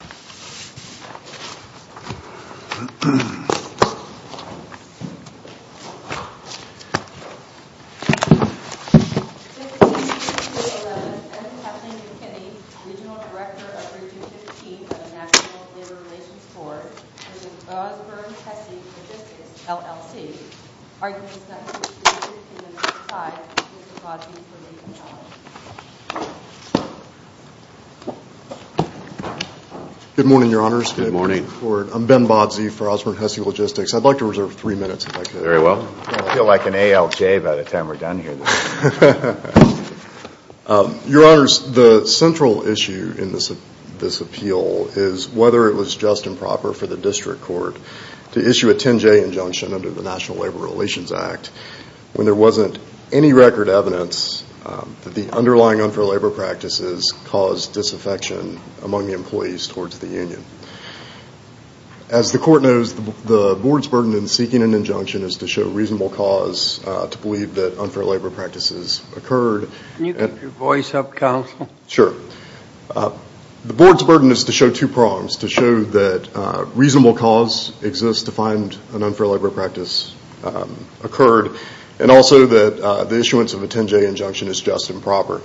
16-11, Edmund Huffman McKinney, Regional Director of Region 15 of the National Labor Relations Board, which is Ozburn-Hessey Logistics LLC, argues that the issue in the next slide is with the BODZ for legal challenge. Good morning, Your Honors. Good morning. I'm Ben BODZ for Ozburn-Hessey Logistics. I'd like to reserve three minutes, if I could. Very well. I feel like an ALJ by the time we're done here. Your Honors, the central issue in this appeal is whether it was just and proper for the district court to issue a 10-J injunction under the National Labor Relations Act when there wasn't any record evidence that the underlying unfair labor practices caused disaffection among the employees towards the union. As the court knows, the board's burden in seeking an injunction is to show reasonable cause to believe that unfair labor practices occurred. Can you keep your voice up, counsel? Sure. The board's burden is to show two prongs, to show that reasonable cause exists to find an unfair labor practice occurred, and also that the issuance of a 10-J injunction is just and proper.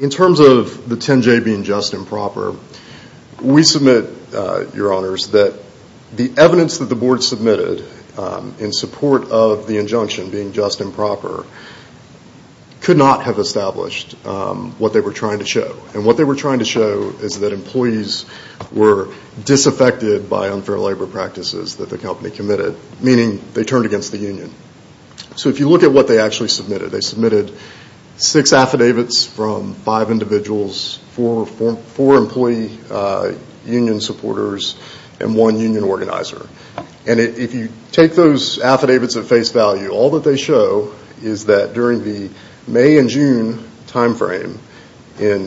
In terms of the 10-J being just and proper, we submit, Your Honors, that the evidence that the board submitted in support of the injunction being just and proper could not have established what they were trying to show. And what they were trying to show is that employees were disaffected by unfair labor practices that the company committed, meaning they turned against the union. So if you look at what they actually submitted, they submitted six affidavits from five individuals, four employee union supporters, and one union organizer. And if you take those affidavits at face value, all that they show is that during the May and June timeframe in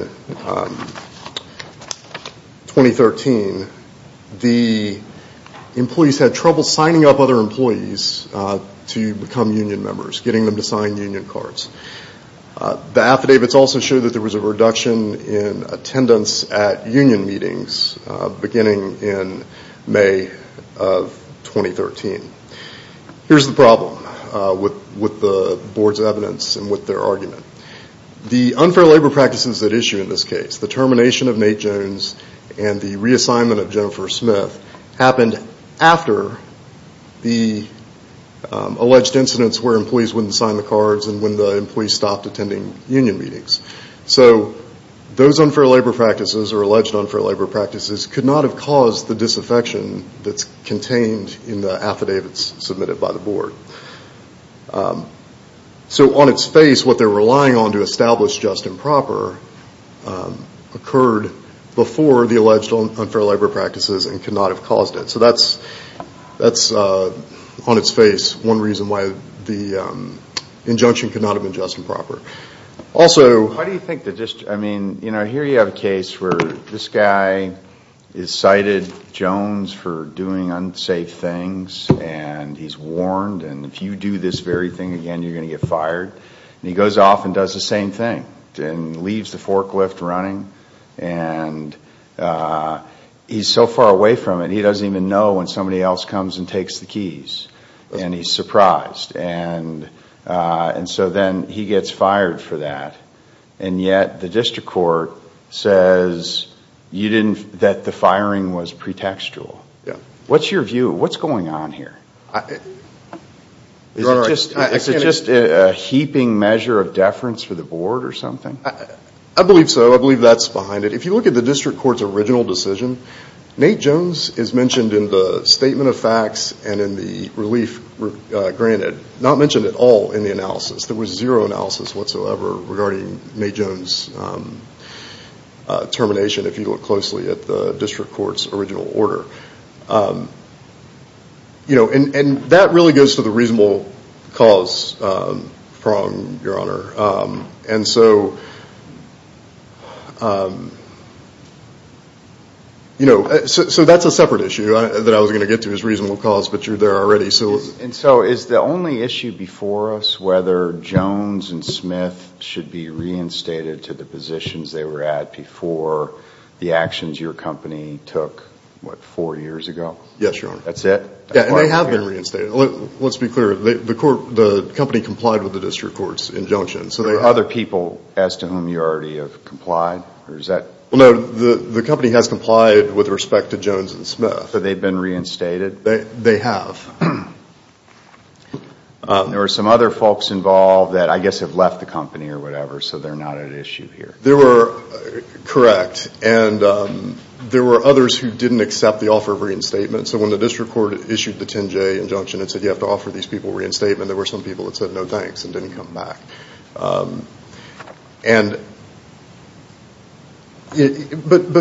2013, the employees had trouble signing up other employees to become union members, getting them to sign union cards. The affidavits also show that there was a reduction in attendance at union meetings beginning in May of 2013. Here's the problem with the board's evidence and with their argument. The unfair labor practices at issue in this case, the termination of Nate Jones and the reassignment of Jennifer Smith, happened after the alleged incidents where employees wouldn't sign the cards and when the employees stopped attending union meetings. So those unfair labor practices or alleged unfair labor practices could not have caused the disaffection that's contained in the affidavits submitted by the board. So on its face, what they're relying on to establish just and proper occurred before the alleged unfair labor practices and could not have caused it. So that's on its face one reason why the injunction could not have been just and proper. Also... And if you do this very thing again, you're going to get fired. And he goes off and does the same thing and leaves the forklift running. And he's so far away from it, he doesn't even know when somebody else comes and takes the keys. And he's surprised. And so then he gets fired for that. And yet the district court says that the firing was pretextual. Yeah. What's your view? What's going on here? Is it just a heaping measure of deference for the board or something? I believe so. I believe that's behind it. If you look at the district court's original decision, Nate Jones is mentioned in the statement of facts and in the relief granted. Not mentioned at all in the analysis. There was zero analysis whatsoever regarding Nate Jones' termination if you look closely at the district court's original order. And that really goes to the reasonable cause prong, Your Honor. And so that's a separate issue that I was going to get to is reasonable cause, but you're there already. And so is the only issue before us whether Jones and Smith should be reinstated to the positions they were at before the actions your company took, what, four years ago? Yes, Your Honor. That's it? Yeah, and they have been reinstated. Let's be clear. The company complied with the district court's injunction. Are there other people as to whom you already have complied? No, the company has complied with respect to Jones and Smith. So they've been reinstated? They have. There are some other folks involved that I guess have left the company or whatever, so they're not at issue here. Correct. And there were others who didn't accept the offer of reinstatement. So when the district court issued the 10-J injunction and said you have to offer these people reinstatement, there were some people that said no thanks and didn't come back. But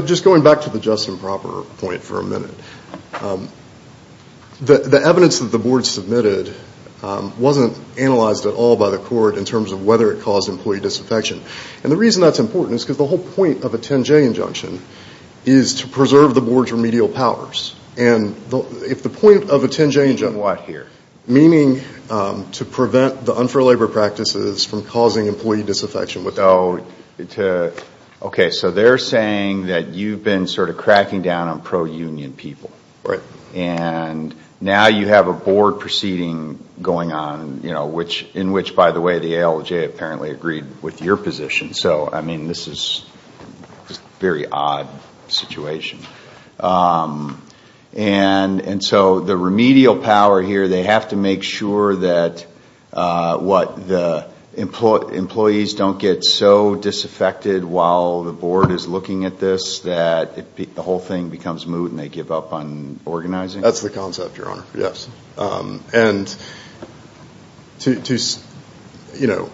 just going back to the just and proper point for a minute, the evidence that the board submitted wasn't analyzed at all by the court in terms of whether it caused employee disaffection. And the reason that's important is because the whole point of a 10-J injunction is to preserve the board's remedial powers. If the point of a 10-J injunction... Meaning what here? Meaning to prevent the unfair labor practices from causing employee disaffection. Okay, so they're saying that you've been sort of cracking down on pro-union people. Right. And now you have a board proceeding going on in which, by the way, the ALJ apparently agreed with your position. So, I mean, this is a very odd situation. And so the remedial power here, they have to make sure that the employees don't get so disaffected while the board is looking at this that the whole thing becomes moot and they give up on organizing? That's the concept, Your Honor, yes. And, you know,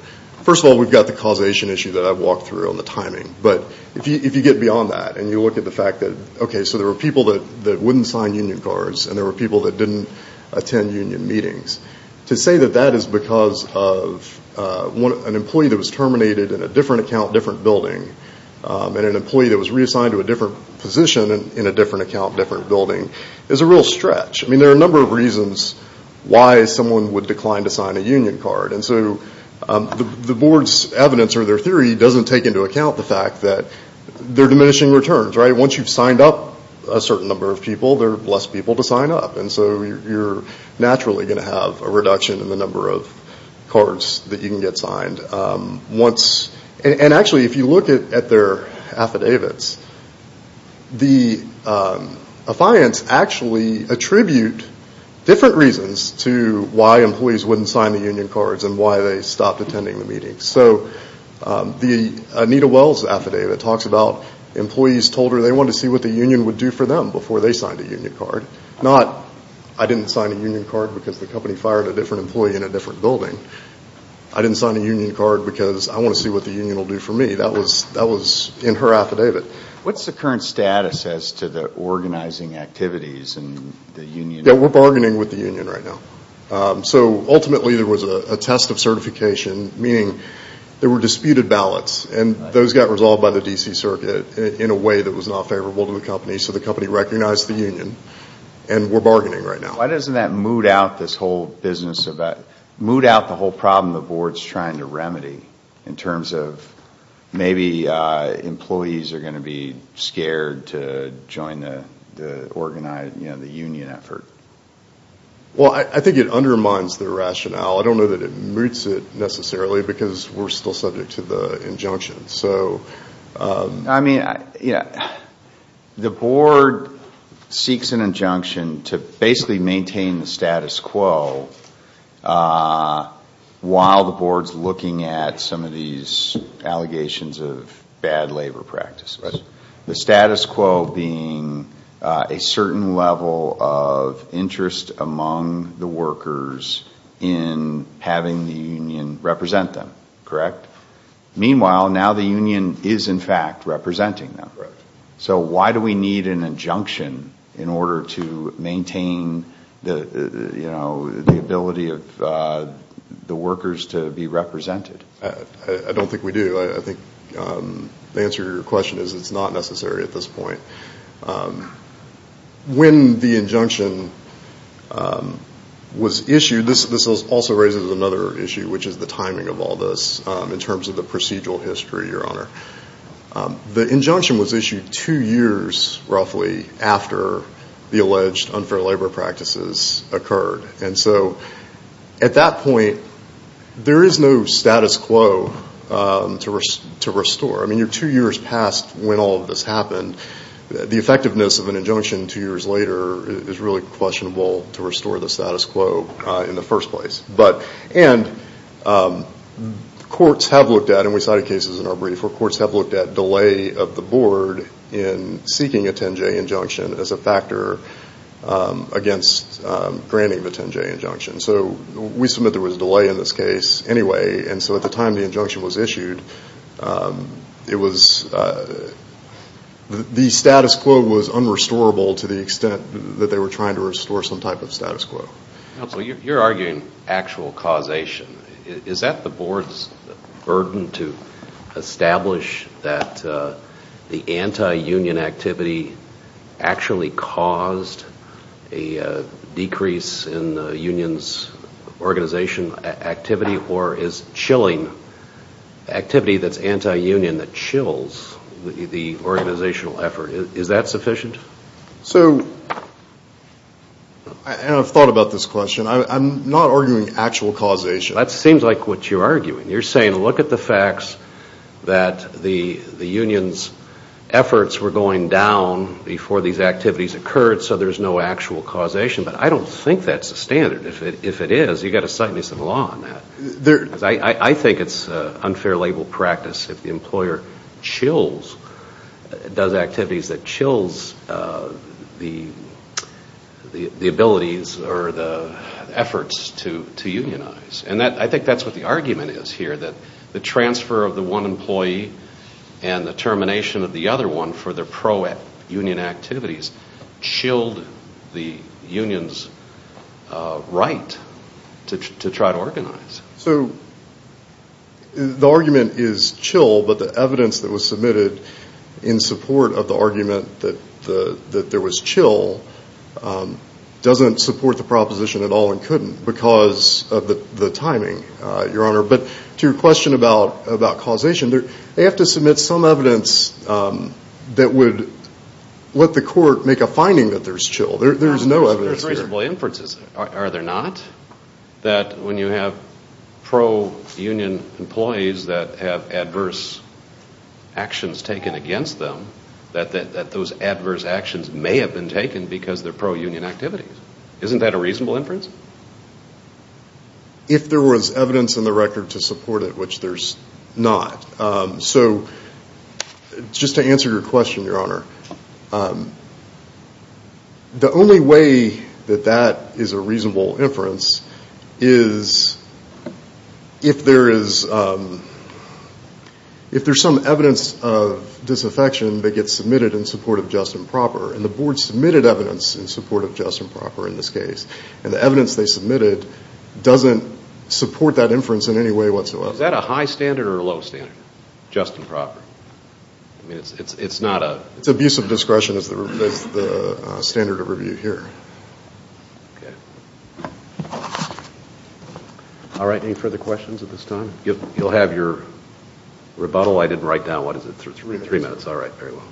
first of all, we've got the causation issue that I've walked through on the timing. But if you get beyond that and you look at the fact that, okay, so there were people that wouldn't sign union cards and there were people that didn't attend union meetings. To say that that is because of an employee that was terminated in a different account, different building, and an employee that was reassigned to a different position in a different account, different building, is a real stretch. I mean, there are a number of reasons why someone would decline to sign a union card. And so the board's evidence or their theory doesn't take into account the fact that they're diminishing returns, right? Once you've signed up a certain number of people, there are less people to sign up. And so you're naturally going to have a reduction in the number of cards that you can get signed once. And actually, if you look at their affidavits, the affiants actually attribute different reasons to why employees wouldn't sign the union cards and why they stopped attending the meetings. So the Anita Wells affidavit talks about employees told her they wanted to see what the union would do for them before they signed a union card. Not, I didn't sign a union card because the company fired a different employee in a different building. I didn't sign a union card because I want to see what the union will do for me. That was in her affidavit. What's the current status as to the organizing activities and the union? Yeah, we're bargaining with the union right now. So ultimately there was a test of certification, meaning there were disputed ballots, and those got resolved by the D.C. Circuit in a way that was not favorable to the company. So the company recognized the union, and we're bargaining right now. Why doesn't that moot out the whole problem the board's trying to remedy in terms of maybe employees are going to be scared to join the union effort? Well, I think it undermines their rationale. I don't know that it moots it necessarily because we're still subject to the injunction. I mean, the board seeks an injunction to basically maintain the status quo while the board's looking at some of these allegations of bad labor practices. The status quo being a certain level of interest among the workers in having the union represent them, correct? Meanwhile, now the union is, in fact, representing them. So why do we need an injunction in order to maintain the ability of the workers to be represented? I don't think we do. I think the answer to your question is it's not necessary at this point. When the injunction was issued, this also raises another issue, which is the timing of all this in terms of what's going on. In terms of the procedural history, Your Honor, the injunction was issued two years roughly after the alleged unfair labor practices occurred. And so at that point, there is no status quo to restore. I mean, you're two years past when all of this happened. The effectiveness of an injunction two years later is really questionable to restore the status quo in the first place. And courts have looked at, and we cited cases in our brief, where courts have looked at delay of the board in seeking a 10-J injunction as a factor against granting the 10-J injunction. So we submit there was delay in this case anyway. And so at the time the injunction was issued, the status quo was unrestorable to the extent that they were trying to restore some type of status quo. Counsel, you're arguing actual causation. Is that the board's burden to establish that the anti-union activity actually caused a decrease in the union's organization activity, or is chilling activity that's anti-union that chills the organizational effort, is that sufficient? So, and I've thought about this question, I'm not arguing actual causation. That seems like what you're arguing. You're saying look at the facts that the union's efforts were going down before these activities occurred, so there's no actual causation. But I don't think that's the standard. If it is, you've got to cite me some law on that. I think it's unfair label practice if the employer chills, does activities that chills the abilities or the efforts to unionize. And I think that's what the argument is here, that the transfer of the one employee and the termination of the other one for their pro-union activities chilled the union's right to try to organize. So the argument is chill, but the evidence that was submitted in support of the argument that there was chill doesn't support the proposition at all and couldn't because of the timing, Your Honor. But to your question about causation, they have to submit some evidence that would let the court make a finding that there's chill. There's no evidence here. There's reasonable inferences. Are there not, that when you have pro-union employees that have adverse actions taken against them, that those adverse actions may have been taken because they're pro-union activities? Isn't that a reasonable inference? If there was evidence in the record to support it, which there's not. So just to answer your question, Your Honor, the only way that that is a reasonable inference is if there's some evidence of disaffection that gets submitted in support of just and proper. And the board submitted evidence in support of just and proper in this case, and the evidence they submitted doesn't support that inference in any way whatsoever. So is that a high standard or a low standard? Just and proper. I mean, it's not a... It's abusive discretion is the standard of review here. All right. Any further questions at this time? You'll have your rebuttal. I didn't write down. What is it? Three minutes. All right. Very well.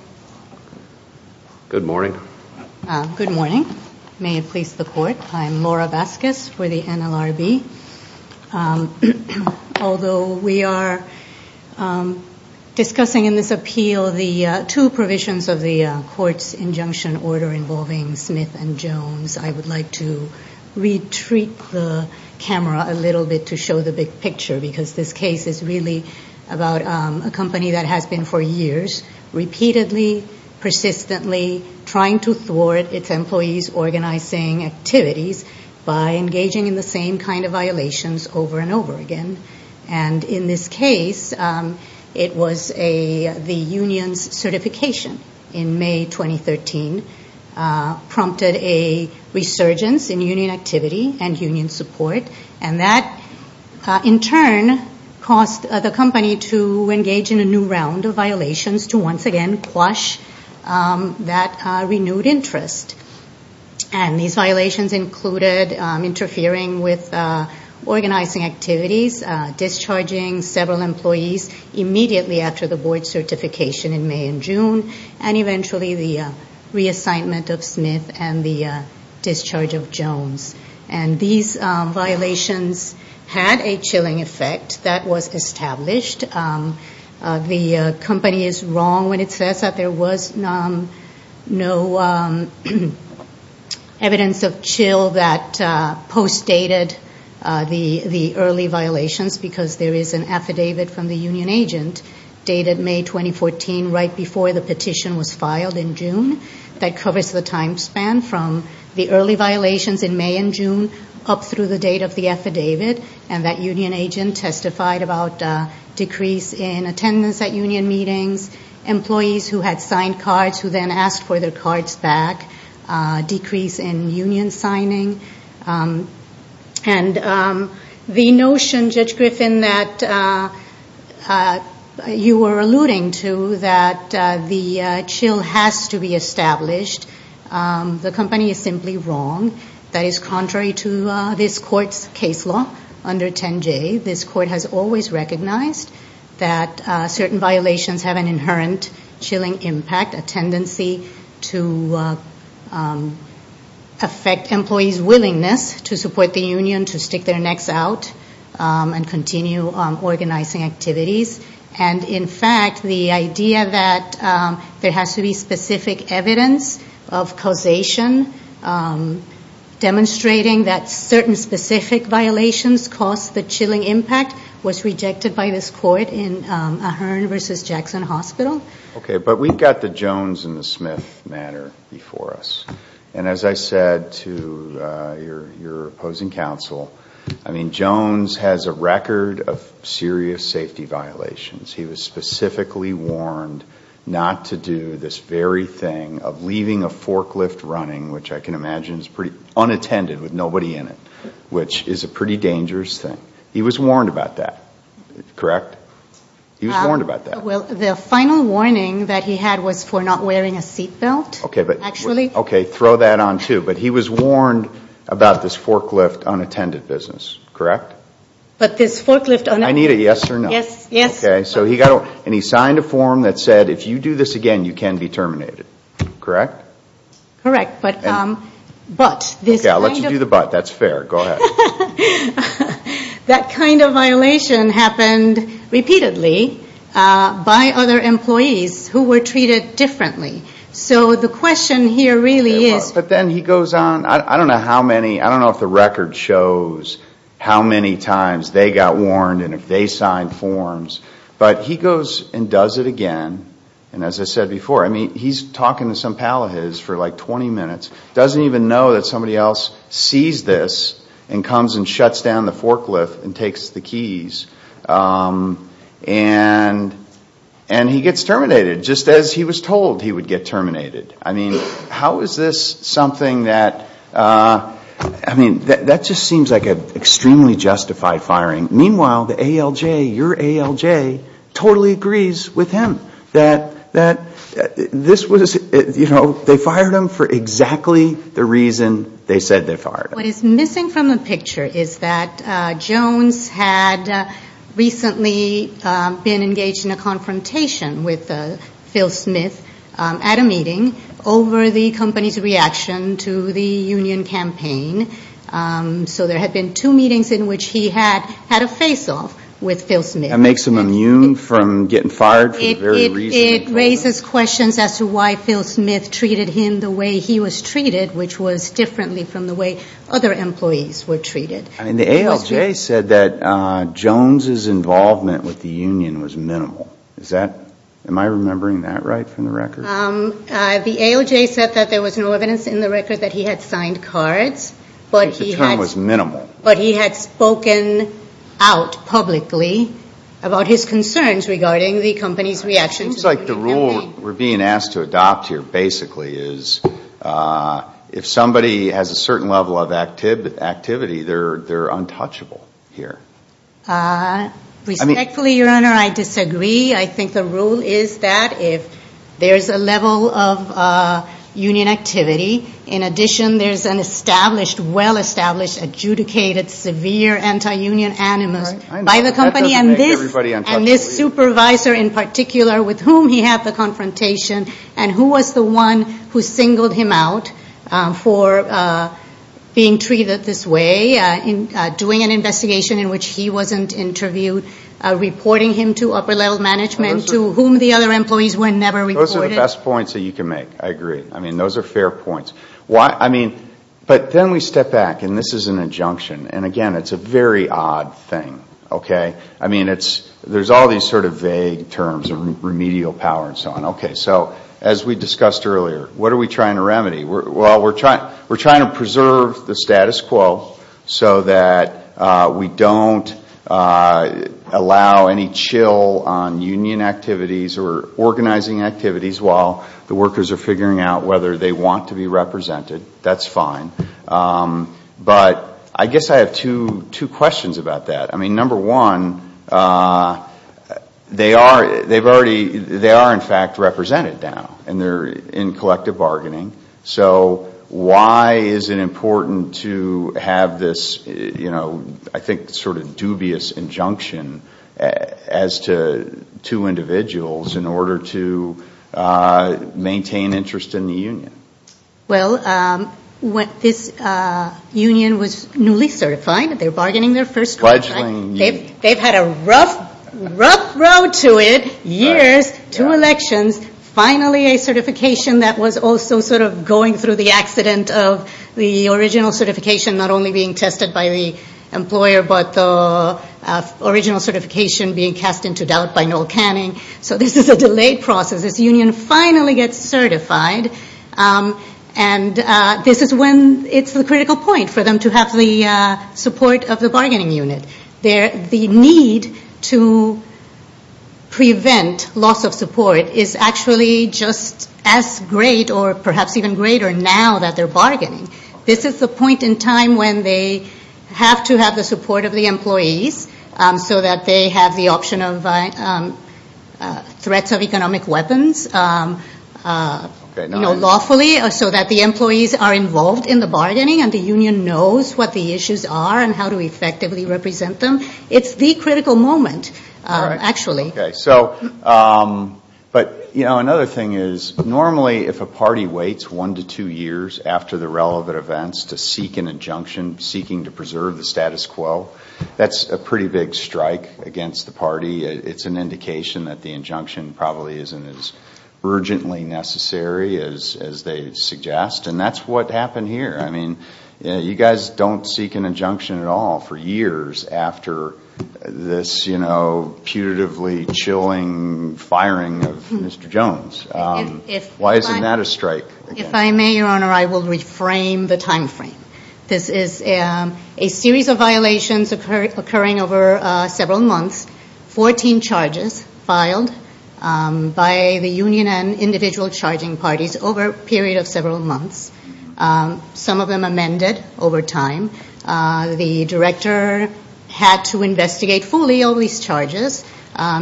Good morning. Good morning. May it please the court. I'm Laura Vasquez for the NLRB. Although we are discussing in this appeal the two provisions of the court's injunction order involving Smith and Jones, I would like to retreat the camera a little bit to show the big picture, because this case is really about a company that has been for years repeatedly, persistently trying to thwart its employees' organizing activities by engaging in the same kind of violations over and over again. And in this case, it was a... In May 2013 prompted a resurgence in union activity and union support, and that in turn caused the company to engage in a new round of violations to once again quash that renewed interest. And these violations included interfering with organizing activities, discharging several employees immediately after the board certification in May and June, and eventually the reassignment of Smith and the discharge of Jones. And these violations had a chilling effect that was established. The company is wrong when it says that there was no evidence of chill that postdated the early violations, because there is an affidavit from the union agent dated May 2014, right before the petition was filed in June, that covers the time span from the early violations in May and June up through the date of the affidavit, and that union agent testified about a decrease in attendance at union meetings, employees who had signed cards who then asked for their cards back, decrease in union signing. And the notion, Judge Griffin, that you were alluding to, that the chill has to be established, the company is simply wrong. That is contrary to this court's case law under 10J. This court has always recognized that certain violations have an inherent chilling impact, a tendency to affect employees' willingness to support the union, to stick their necks out and continue organizing activities. And in fact, the idea that there has to be specific evidence of causation demonstrating that certain specific violations caused the chilling impact was rejected by this court in Ahern v. Jackson Hospital. Okay, but we've got the Jones and the Smith matter before us. And as I said to your opposing counsel, I mean, Jones has a record of serious safety violations. He was specifically warned not to do this very thing of leaving a forklift running, which I can imagine is pretty unattended with nobody in it, which is a pretty dangerous thing. He was warned about that, correct? Well, the final warning that he had was for not wearing a seat belt, actually. Okay, throw that on, too. But he was warned about this forklift unattended business, correct? But this forklift unattended business. I need a yes or no. Yes, yes. And he signed a form that said if you do this again, you can be terminated, correct? Correct. But this kind of... Okay, I'll let you do the but. That's fair. Go ahead. That kind of violation happened repeatedly by other employees who were treated differently. So the question here really is... But then he goes on, I don't know how many, I don't know if the record shows how many times they got warned and if they signed forms, but he goes and does it again. And as I said before, I mean, he's talking to some pal of his for like 20 minutes, doesn't even know that somebody else sees this and comes and shuts down the forklift and takes the keys. And he gets terminated just as he was told he would get terminated. I mean, how is this something that... I mean, that just seems like an extremely justified firing. Meanwhile, the ALJ, your ALJ, totally agrees with him that this was, you know, they fired him for exactly the reason they said they fired him. What is missing from the picture is that Jones had recently been engaged in a confrontation with Phil Smith at a meeting over the company's reaction to the union campaign. So there had been two meetings in which he had had a face-off with Phil Smith. That makes him immune from getting fired for the very reason... It raises questions as to why Phil Smith treated him the way he was treated, which was differently from the way other employees were treated. I mean, the ALJ said that Jones' involvement with the union was minimal. Am I remembering that right from the record? The ALJ said that there was no evidence in the record that he had signed cards, but he had spoken out publicly about his concerns regarding the company's reaction to the union campaign. It seems like the rule we're being asked to adopt here basically is if somebody has a certain level of activity, they're untouchable here. Respectfully, Your Honor, I disagree. I think the rule is that if there's a level of union activity, in addition there's an established, well-established, adjudicated, severe anti-union animus by the company, and this supervisor in particular with whom he had the confrontation, and who was the one who singled him out for being treated this way, doing an investigation in which he wasn't interviewed, reporting him to upper-level management, to whom the other employees were never reported. Those are the best points that you can make. I agree. I mean, those are fair points. But then we step back, and this is an injunction, and again, it's a very odd thing, okay? I mean, there's all these sort of vague terms, remedial power and so on. Okay, so as we discussed earlier, what are we trying to remedy? Well, we're trying to preserve the status quo so that we don't allow any chill on union activities or organizing activities while the workers are figuring out whether they want to be represented. That's fine. But I guess I have two questions about that. I mean, number one, they are in fact represented now, and they're in collective bargaining. So why is it important to have this, you know, I think sort of dubious injunction as to two individuals in order to maintain interest in the union? Well, this union was newly certified. They're bargaining their first one, right? They've had a rough road to it, years, two elections, finally a certification that was also sort of going through the accident of the original certification not only being tested by the employer, but the original certification being cast into doubt by Noel Canning. So this is a delayed process. This union finally gets certified, and this is when it's the critical point for them to have the support of the bargaining unit. The need to prevent loss of support is actually just as great or perhaps even greater now that they're bargaining. This is the point in time when they have to have the support of the employees so that they have the option of threats of economic weapons, you know, lawfully, so that the employees are involved in the bargaining and the union knows what the issues are and how to effectively represent them. It's the critical moment, actually. But, you know, another thing is normally if a party waits one to two years after the relevant events to seek an injunction, seeking to preserve the status quo, that's a pretty big strike against the party. It's an indication that the injunction probably isn't as urgently necessary as they suggest, and that's what happened here. I mean, you guys don't seek an injunction at all for years after this, you know, putatively chilling firing of Mr. Jones. Why isn't that a strike? This is a series of violations occurring over several months. Fourteen charges filed by the union and individual charging parties over a period of several months. Some of them amended over time. The director had to investigate fully all these charges,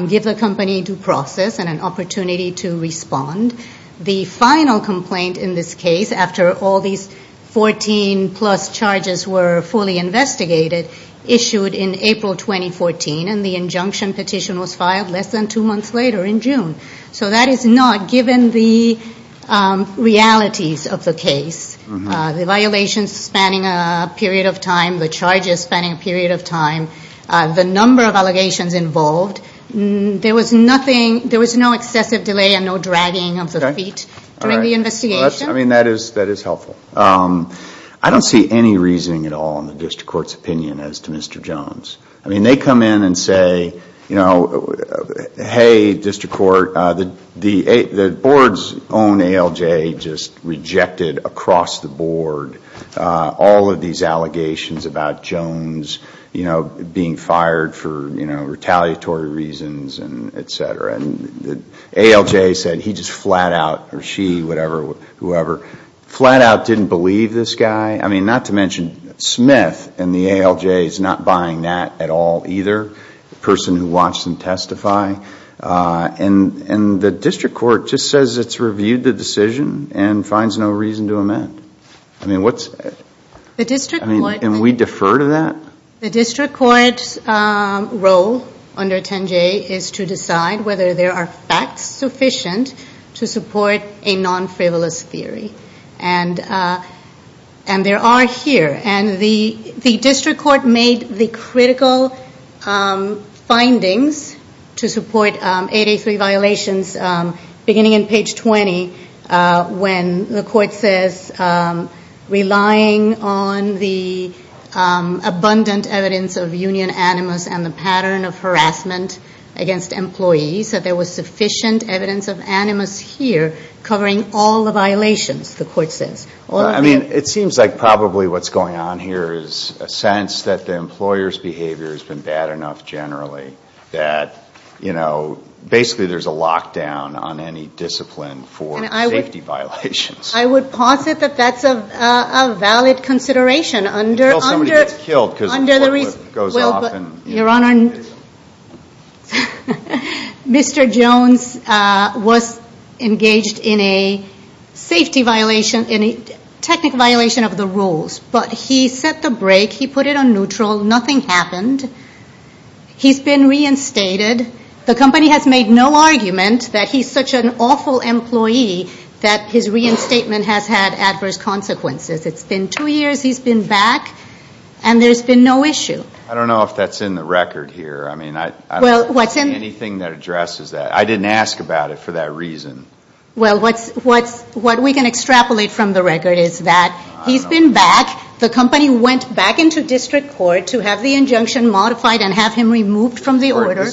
give the company due process and an opportunity to respond. The final complaint in this case, after all these 14-plus charges were fully investigated, issued in April 2014, and the injunction petition was filed less than two months later in June. So that is not given the realities of the case. The violations spanning a period of time, the charges spanning a period of time, the number of allegations involved. There was no excessive delay and no dragging of the feet during the investigation. I mean, that is helpful. I don't see any reasoning at all in the district court's opinion as to Mr. Jones. I mean, they come in and say, hey, district court, the board's own ALJ just rejected across the board all of these allegations about Jones being fired for retaliatory reasons. ALJ said he just flat out, or she, whatever, whoever, flat out didn't believe this guy. I mean, not to mention Smith in the ALJ is not buying that at all either, the person who watched him testify. And the district court just says it's reviewed the decision and finds no reason to amend. I mean, what's... What the ALJ is to decide whether there are facts sufficient to support a non-frivolous theory. And there are here, and the district court made the critical findings to support 883 violations beginning in page 20 when the court says relying on the abundant evidence of union animus and the pattern of harassment, against employees, that there was sufficient evidence of animus here covering all the violations, the court says. I mean, it seems like probably what's going on here is a sense that the employer's behavior has been bad enough generally that, you know, basically there's a lockdown on any discipline for safety violations. I would posit that that's a valid consideration under... Mr. Jones was engaged in a safety violation, a technical violation of the rules. But he set the brake, he put it on neutral, nothing happened. He's been reinstated. The company has made no argument that he's such an awful employee that his reinstatement has had adverse consequences. It's been two years, he's been back, and there's been no issue. I don't know if that's in the record here. I mean, I don't see anything that addresses that. I didn't ask about it for that reason. Well, what we can extrapolate from the record is that he's been back, the company went back into district court to have the injunction modified and have him removed from the order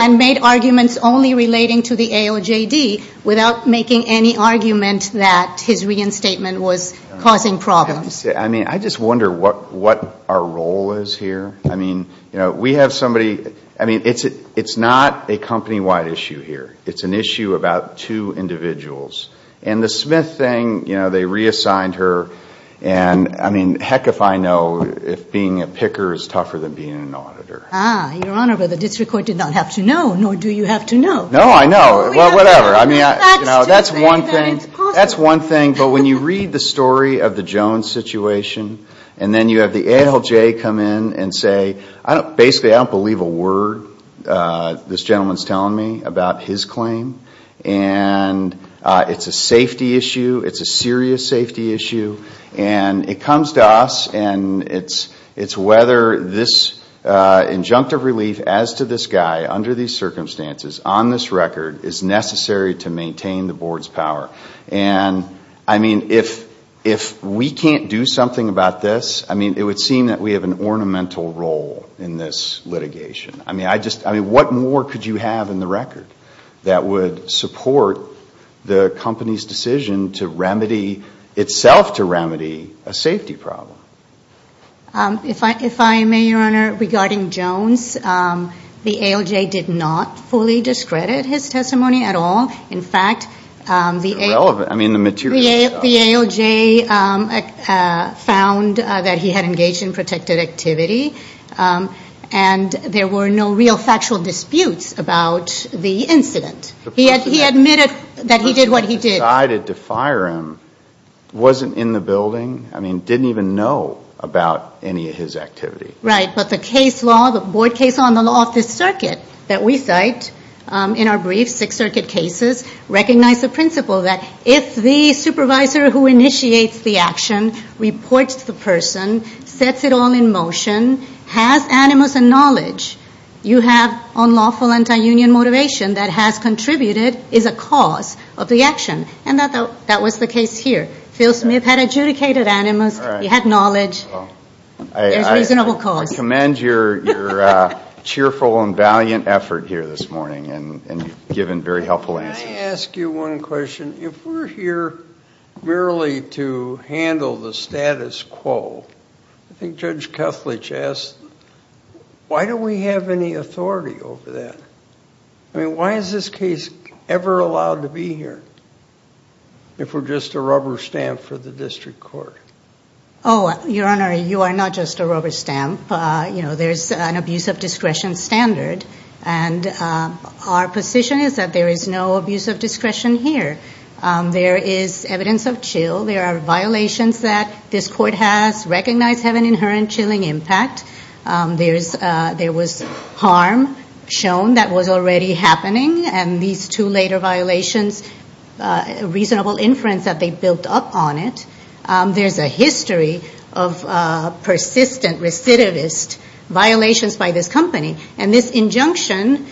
and made arguments only relating to the AOJD without making any argument that his reinstatement was causing problems. I mean, I just wonder what our role is here. I mean, we have somebody, I mean, it's not a company-wide issue here. It's an issue about two individuals. And the Smith thing, you know, they reassigned her, and I mean, heck if I know if being a picker is tougher than being an auditor. Your Honor, but the district court did not have to know, nor do you have to know. No, I know. Well, whatever. I mean, that's one thing, but when you read the story of the Jones situation, and then you have the ALJ come in and say, basically, I don't believe a word this gentleman's telling me about his claim. And it's a safety issue. It's a serious safety issue. And it comes to us, and it's whether this injunctive relief, as to this guy, under these circumstances, on this record, is necessary to maintain the board's power. And, I mean, if we can't do something about this, I mean, it would seem that we have an ornamental role in this litigation. I mean, what more could you have in the record that would support the company's decision to remedy itself, to remedy this case? It's a safety problem. If I may, Your Honor, regarding Jones, the ALJ did not fully discredit his testimony at all. In fact, the ALJ found that he had engaged in protected activity, and there were no real factual disputes about the incident. He admitted that he did what he did. The person who decided to fire him wasn't in the building, I mean, didn't even know about any of his activity. Right. But the case law, the board case law, and the law of this circuit that we cite in our briefs, Sixth Circuit cases, recognize the principle that if the supervisor who initiates the action reports the person, sets it all in motion, has animus and knowledge, you have unlawful anti-union motivation that has control over the action. The person who contributed is a cause of the action, and that was the case here. Phil Smith had adjudicated animus, he had knowledge. I commend your cheerful and valiant effort here this morning, and you've given very helpful answers. Can I ask you one question? If we're here merely to handle the status quo, I think Judge Kethledge asked, why don't we have any authority over that? I mean, why is this case ever allowed to be here if we're just a rubber stamp for the district court? Oh, Your Honor, you are not just a rubber stamp. There's an abuse of discretion standard, and our position is that there is no abuse of discretion here. There is evidence of chill. There are violations that this court has recognized have an inherent chilling impact. There was harm shown that was already happening, and these two later violations, reasonable inference that they built up on it. There's a history of persistent recidivist violations by this company, and this injunction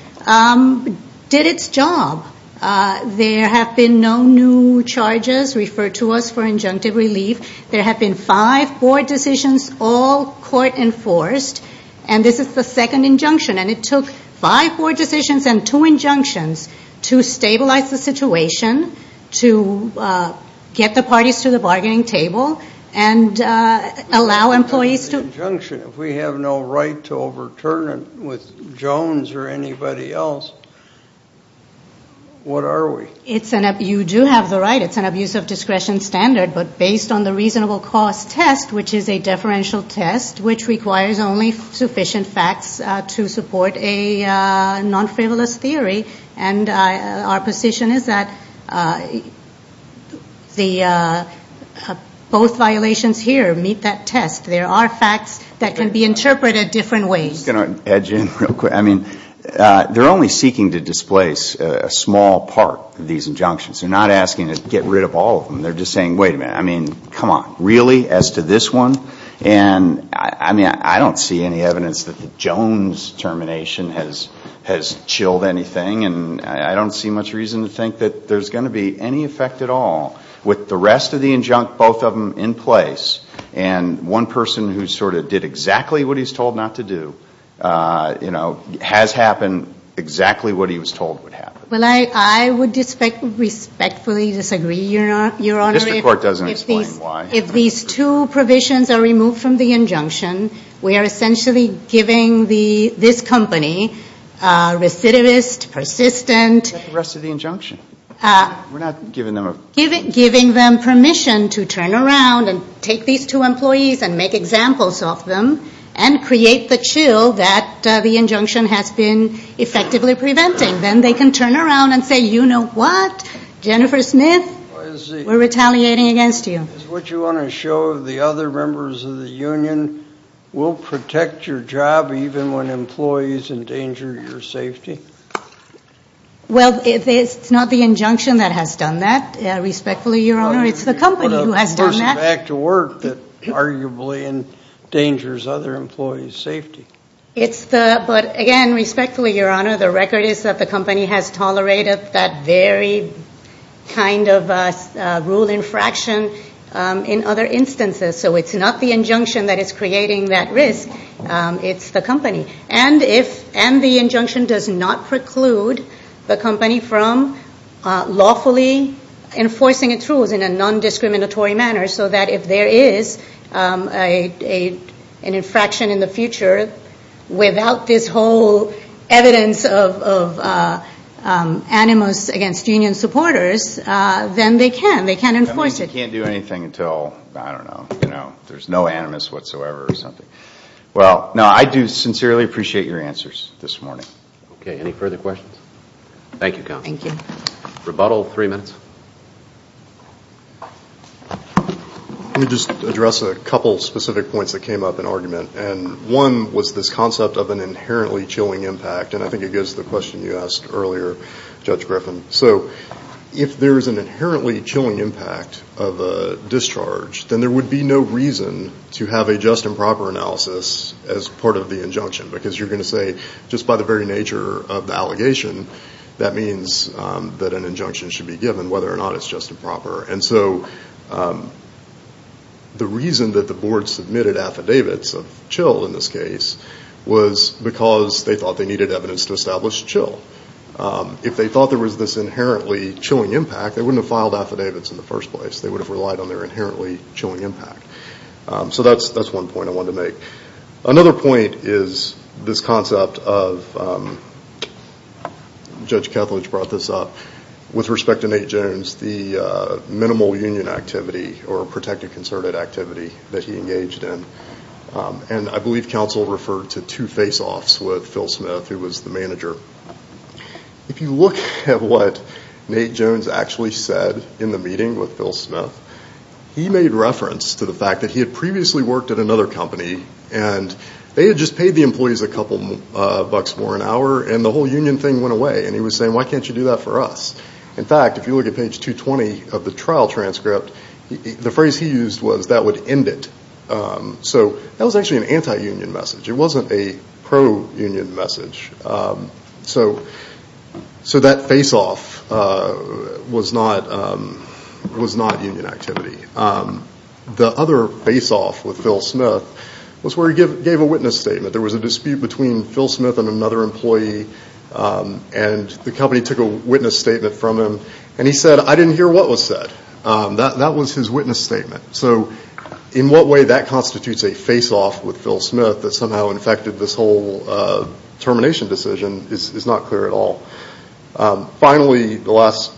did its job. There have been no new charges referred to us for injunctive relief. There have been five board decisions, all court-enforced, and this is the second injunction. And it took five board decisions and two injunctions to stabilize the situation, to get the parties to the bargaining table, and allow employees to... If we have no right to overturn it with Jones or anybody else, what are we? You do have the right, it's an abuse of discretion standard, but based on the reasonable cost test, which is a deferential test, which requires only sufficient facts to support a non-frivolous theory, and our position is that both violations here meet that test. There are facts that can be interpreted different ways. I'm just going to edge in real quick. I mean, they're only seeking to displace a small part of these injunctions. They're not asking to get rid of all of them. They're just saying, wait a minute, I mean, come on, really, as to this one? And I mean, I don't see any evidence that the Jones termination has chilled anything, and I don't see much reason to think that there's going to be any effect at all. But I would just say that, with the rest of the injunct, both of them in place, and one person who sort of did exactly what he's told not to do, you know, has happened exactly what he was told would happen. Well, I would respectfully disagree, Your Honor. Mr. Court doesn't explain why. If these two provisions are removed from the injunction, we are essentially giving this company recidivist, persistent... We're giving them permission to turn around and take these two employees and make examples of them and create the chill that the injunction has been effectively preventing. Then they can turn around and say, you know what, Jennifer Smith, we're retaliating against you. Is what you want to show the other members of the union will protect your job even when employees endanger your safety? Well, it's not the injunction that has done that, respectfully, Your Honor. It's the company who has done that. But again, respectfully, Your Honor, the record is that the company has tolerated that very kind of rule infraction in other instances. So it's not the injunction that is creating that risk. It's the company. And the injunction does not preclude the company from lawfully enforcing its rules in a non-discriminatory manner so that if there is an infraction in the future without this whole evidence of animus against union supporters, then they can. They can enforce it. They can't do anything until, I don't know, you know, there's no animus whatsoever or something. Well, no, I do sincerely appreciate your answers this morning. Okay. Any further questions? Thank you, Counsel. Let me just address a couple specific points that came up in argument. And one was this concept of an inherently chilling impact. And I think it goes to the question you asked earlier, Judge Griffin. So if there is an inherently chilling impact of a discharge, then there would be no reason to have a just and proper analysis as part of the injunction. Because you're going to say just by the very nature of the allegation, that means that an injunction should be given whether or not it's just and proper. And so the reason that the board submitted affidavits of chill in this case was because they thought they needed evidence to establish chill. If they thought there was this inherently chilling impact, they wouldn't have filed affidavits in the first place. They would have relied on their inherently chilling impact. So that's one point I wanted to make. Another point is this concept of, Judge Kethledge brought this up, with respect to Nate Jones, the minimal union activity or protected concerted activity that he engaged in. And I believe Counsel referred to two face-offs with Phil Smith, who was the manager. If you look at what Nate Jones actually said in the meeting with Phil Smith, he made reference to the fact that he had previously worked at another company and they had just paid the employees a couple bucks more an hour and the whole union thing went away. And he was saying, why can't you do that for us? In fact, if you look at page 220 of the trial transcript, the phrase he used was, that would end it. So that was actually an anti-union message. It wasn't a pro-union message. So that face-off was not union activity. The other face-off with Phil Smith was where he gave a witness statement. There was a dispute between Phil Smith and another employee, and the company took a witness statement from him, and he said, I didn't hear what was said. That was his witness statement. So in what way that constitutes a face-off with Phil Smith that somehow infected this whole termination decision is not clear at all. Finally, the last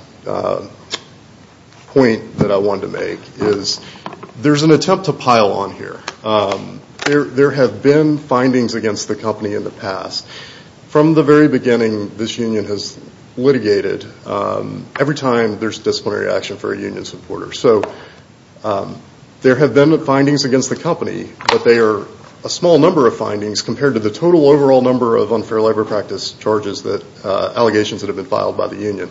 point that I wanted to make is there's an attempt to pile on here. There have been findings against the company in the past. From the very beginning, this union has litigated every time there's disciplinary action for a union supporter. There have been findings against the company, but they are a small number of findings compared to the total overall number of unfair labor practice charges, allegations that have been filed by the union.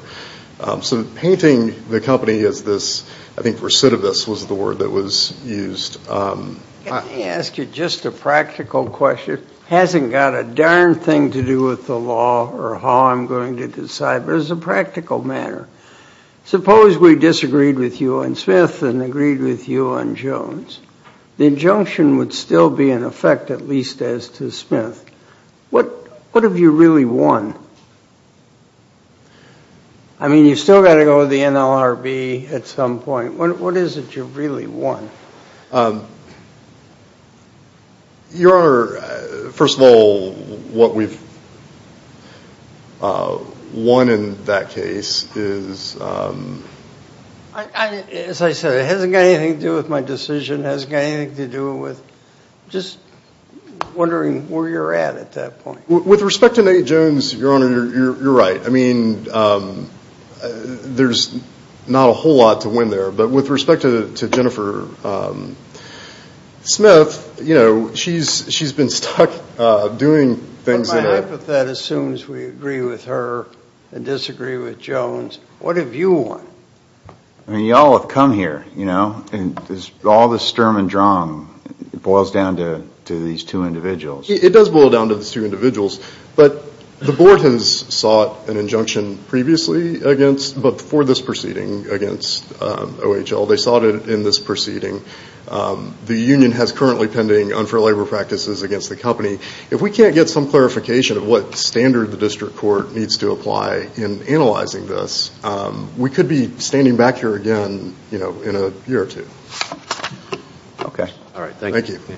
So painting the company as this, I think recidivist was the word that was used. Let me ask you just a practical question. It hasn't got a darn thing to do with the law or how I'm going to decide, but as a practical matter, suppose we disagreed with you on Smith and agreed with you on Jones. The injunction would still be in effect, at least as to Smith. What have you really won? I mean, you've still got to go with the NLRB at some point. What is it you've really won? Your Honor, first of all, what we've won in that case is... As I said, it hasn't got anything to do with my decision. It hasn't got anything to do with just wondering where you're at at that point. With respect to Nate Jones, Your Honor, you're right. I mean, there's not a whole lot to win there. But with respect to Jennifer Smith, you know, she's been stuck doing things that are... But my hypothetic assumes we agree with her and disagree with Jones. What have you won? I mean, you all have come here, you know, and all this stir and drum boils down to these two individuals. But the board has sought an injunction previously against, but for this proceeding against OHL. They sought it in this proceeding. The union has currently pending unfair labor practices against the company. If we can't get some clarification of what standard the district court needs to apply in analyzing this, we could be standing back here again in a year or two. OK. All right. Thank you.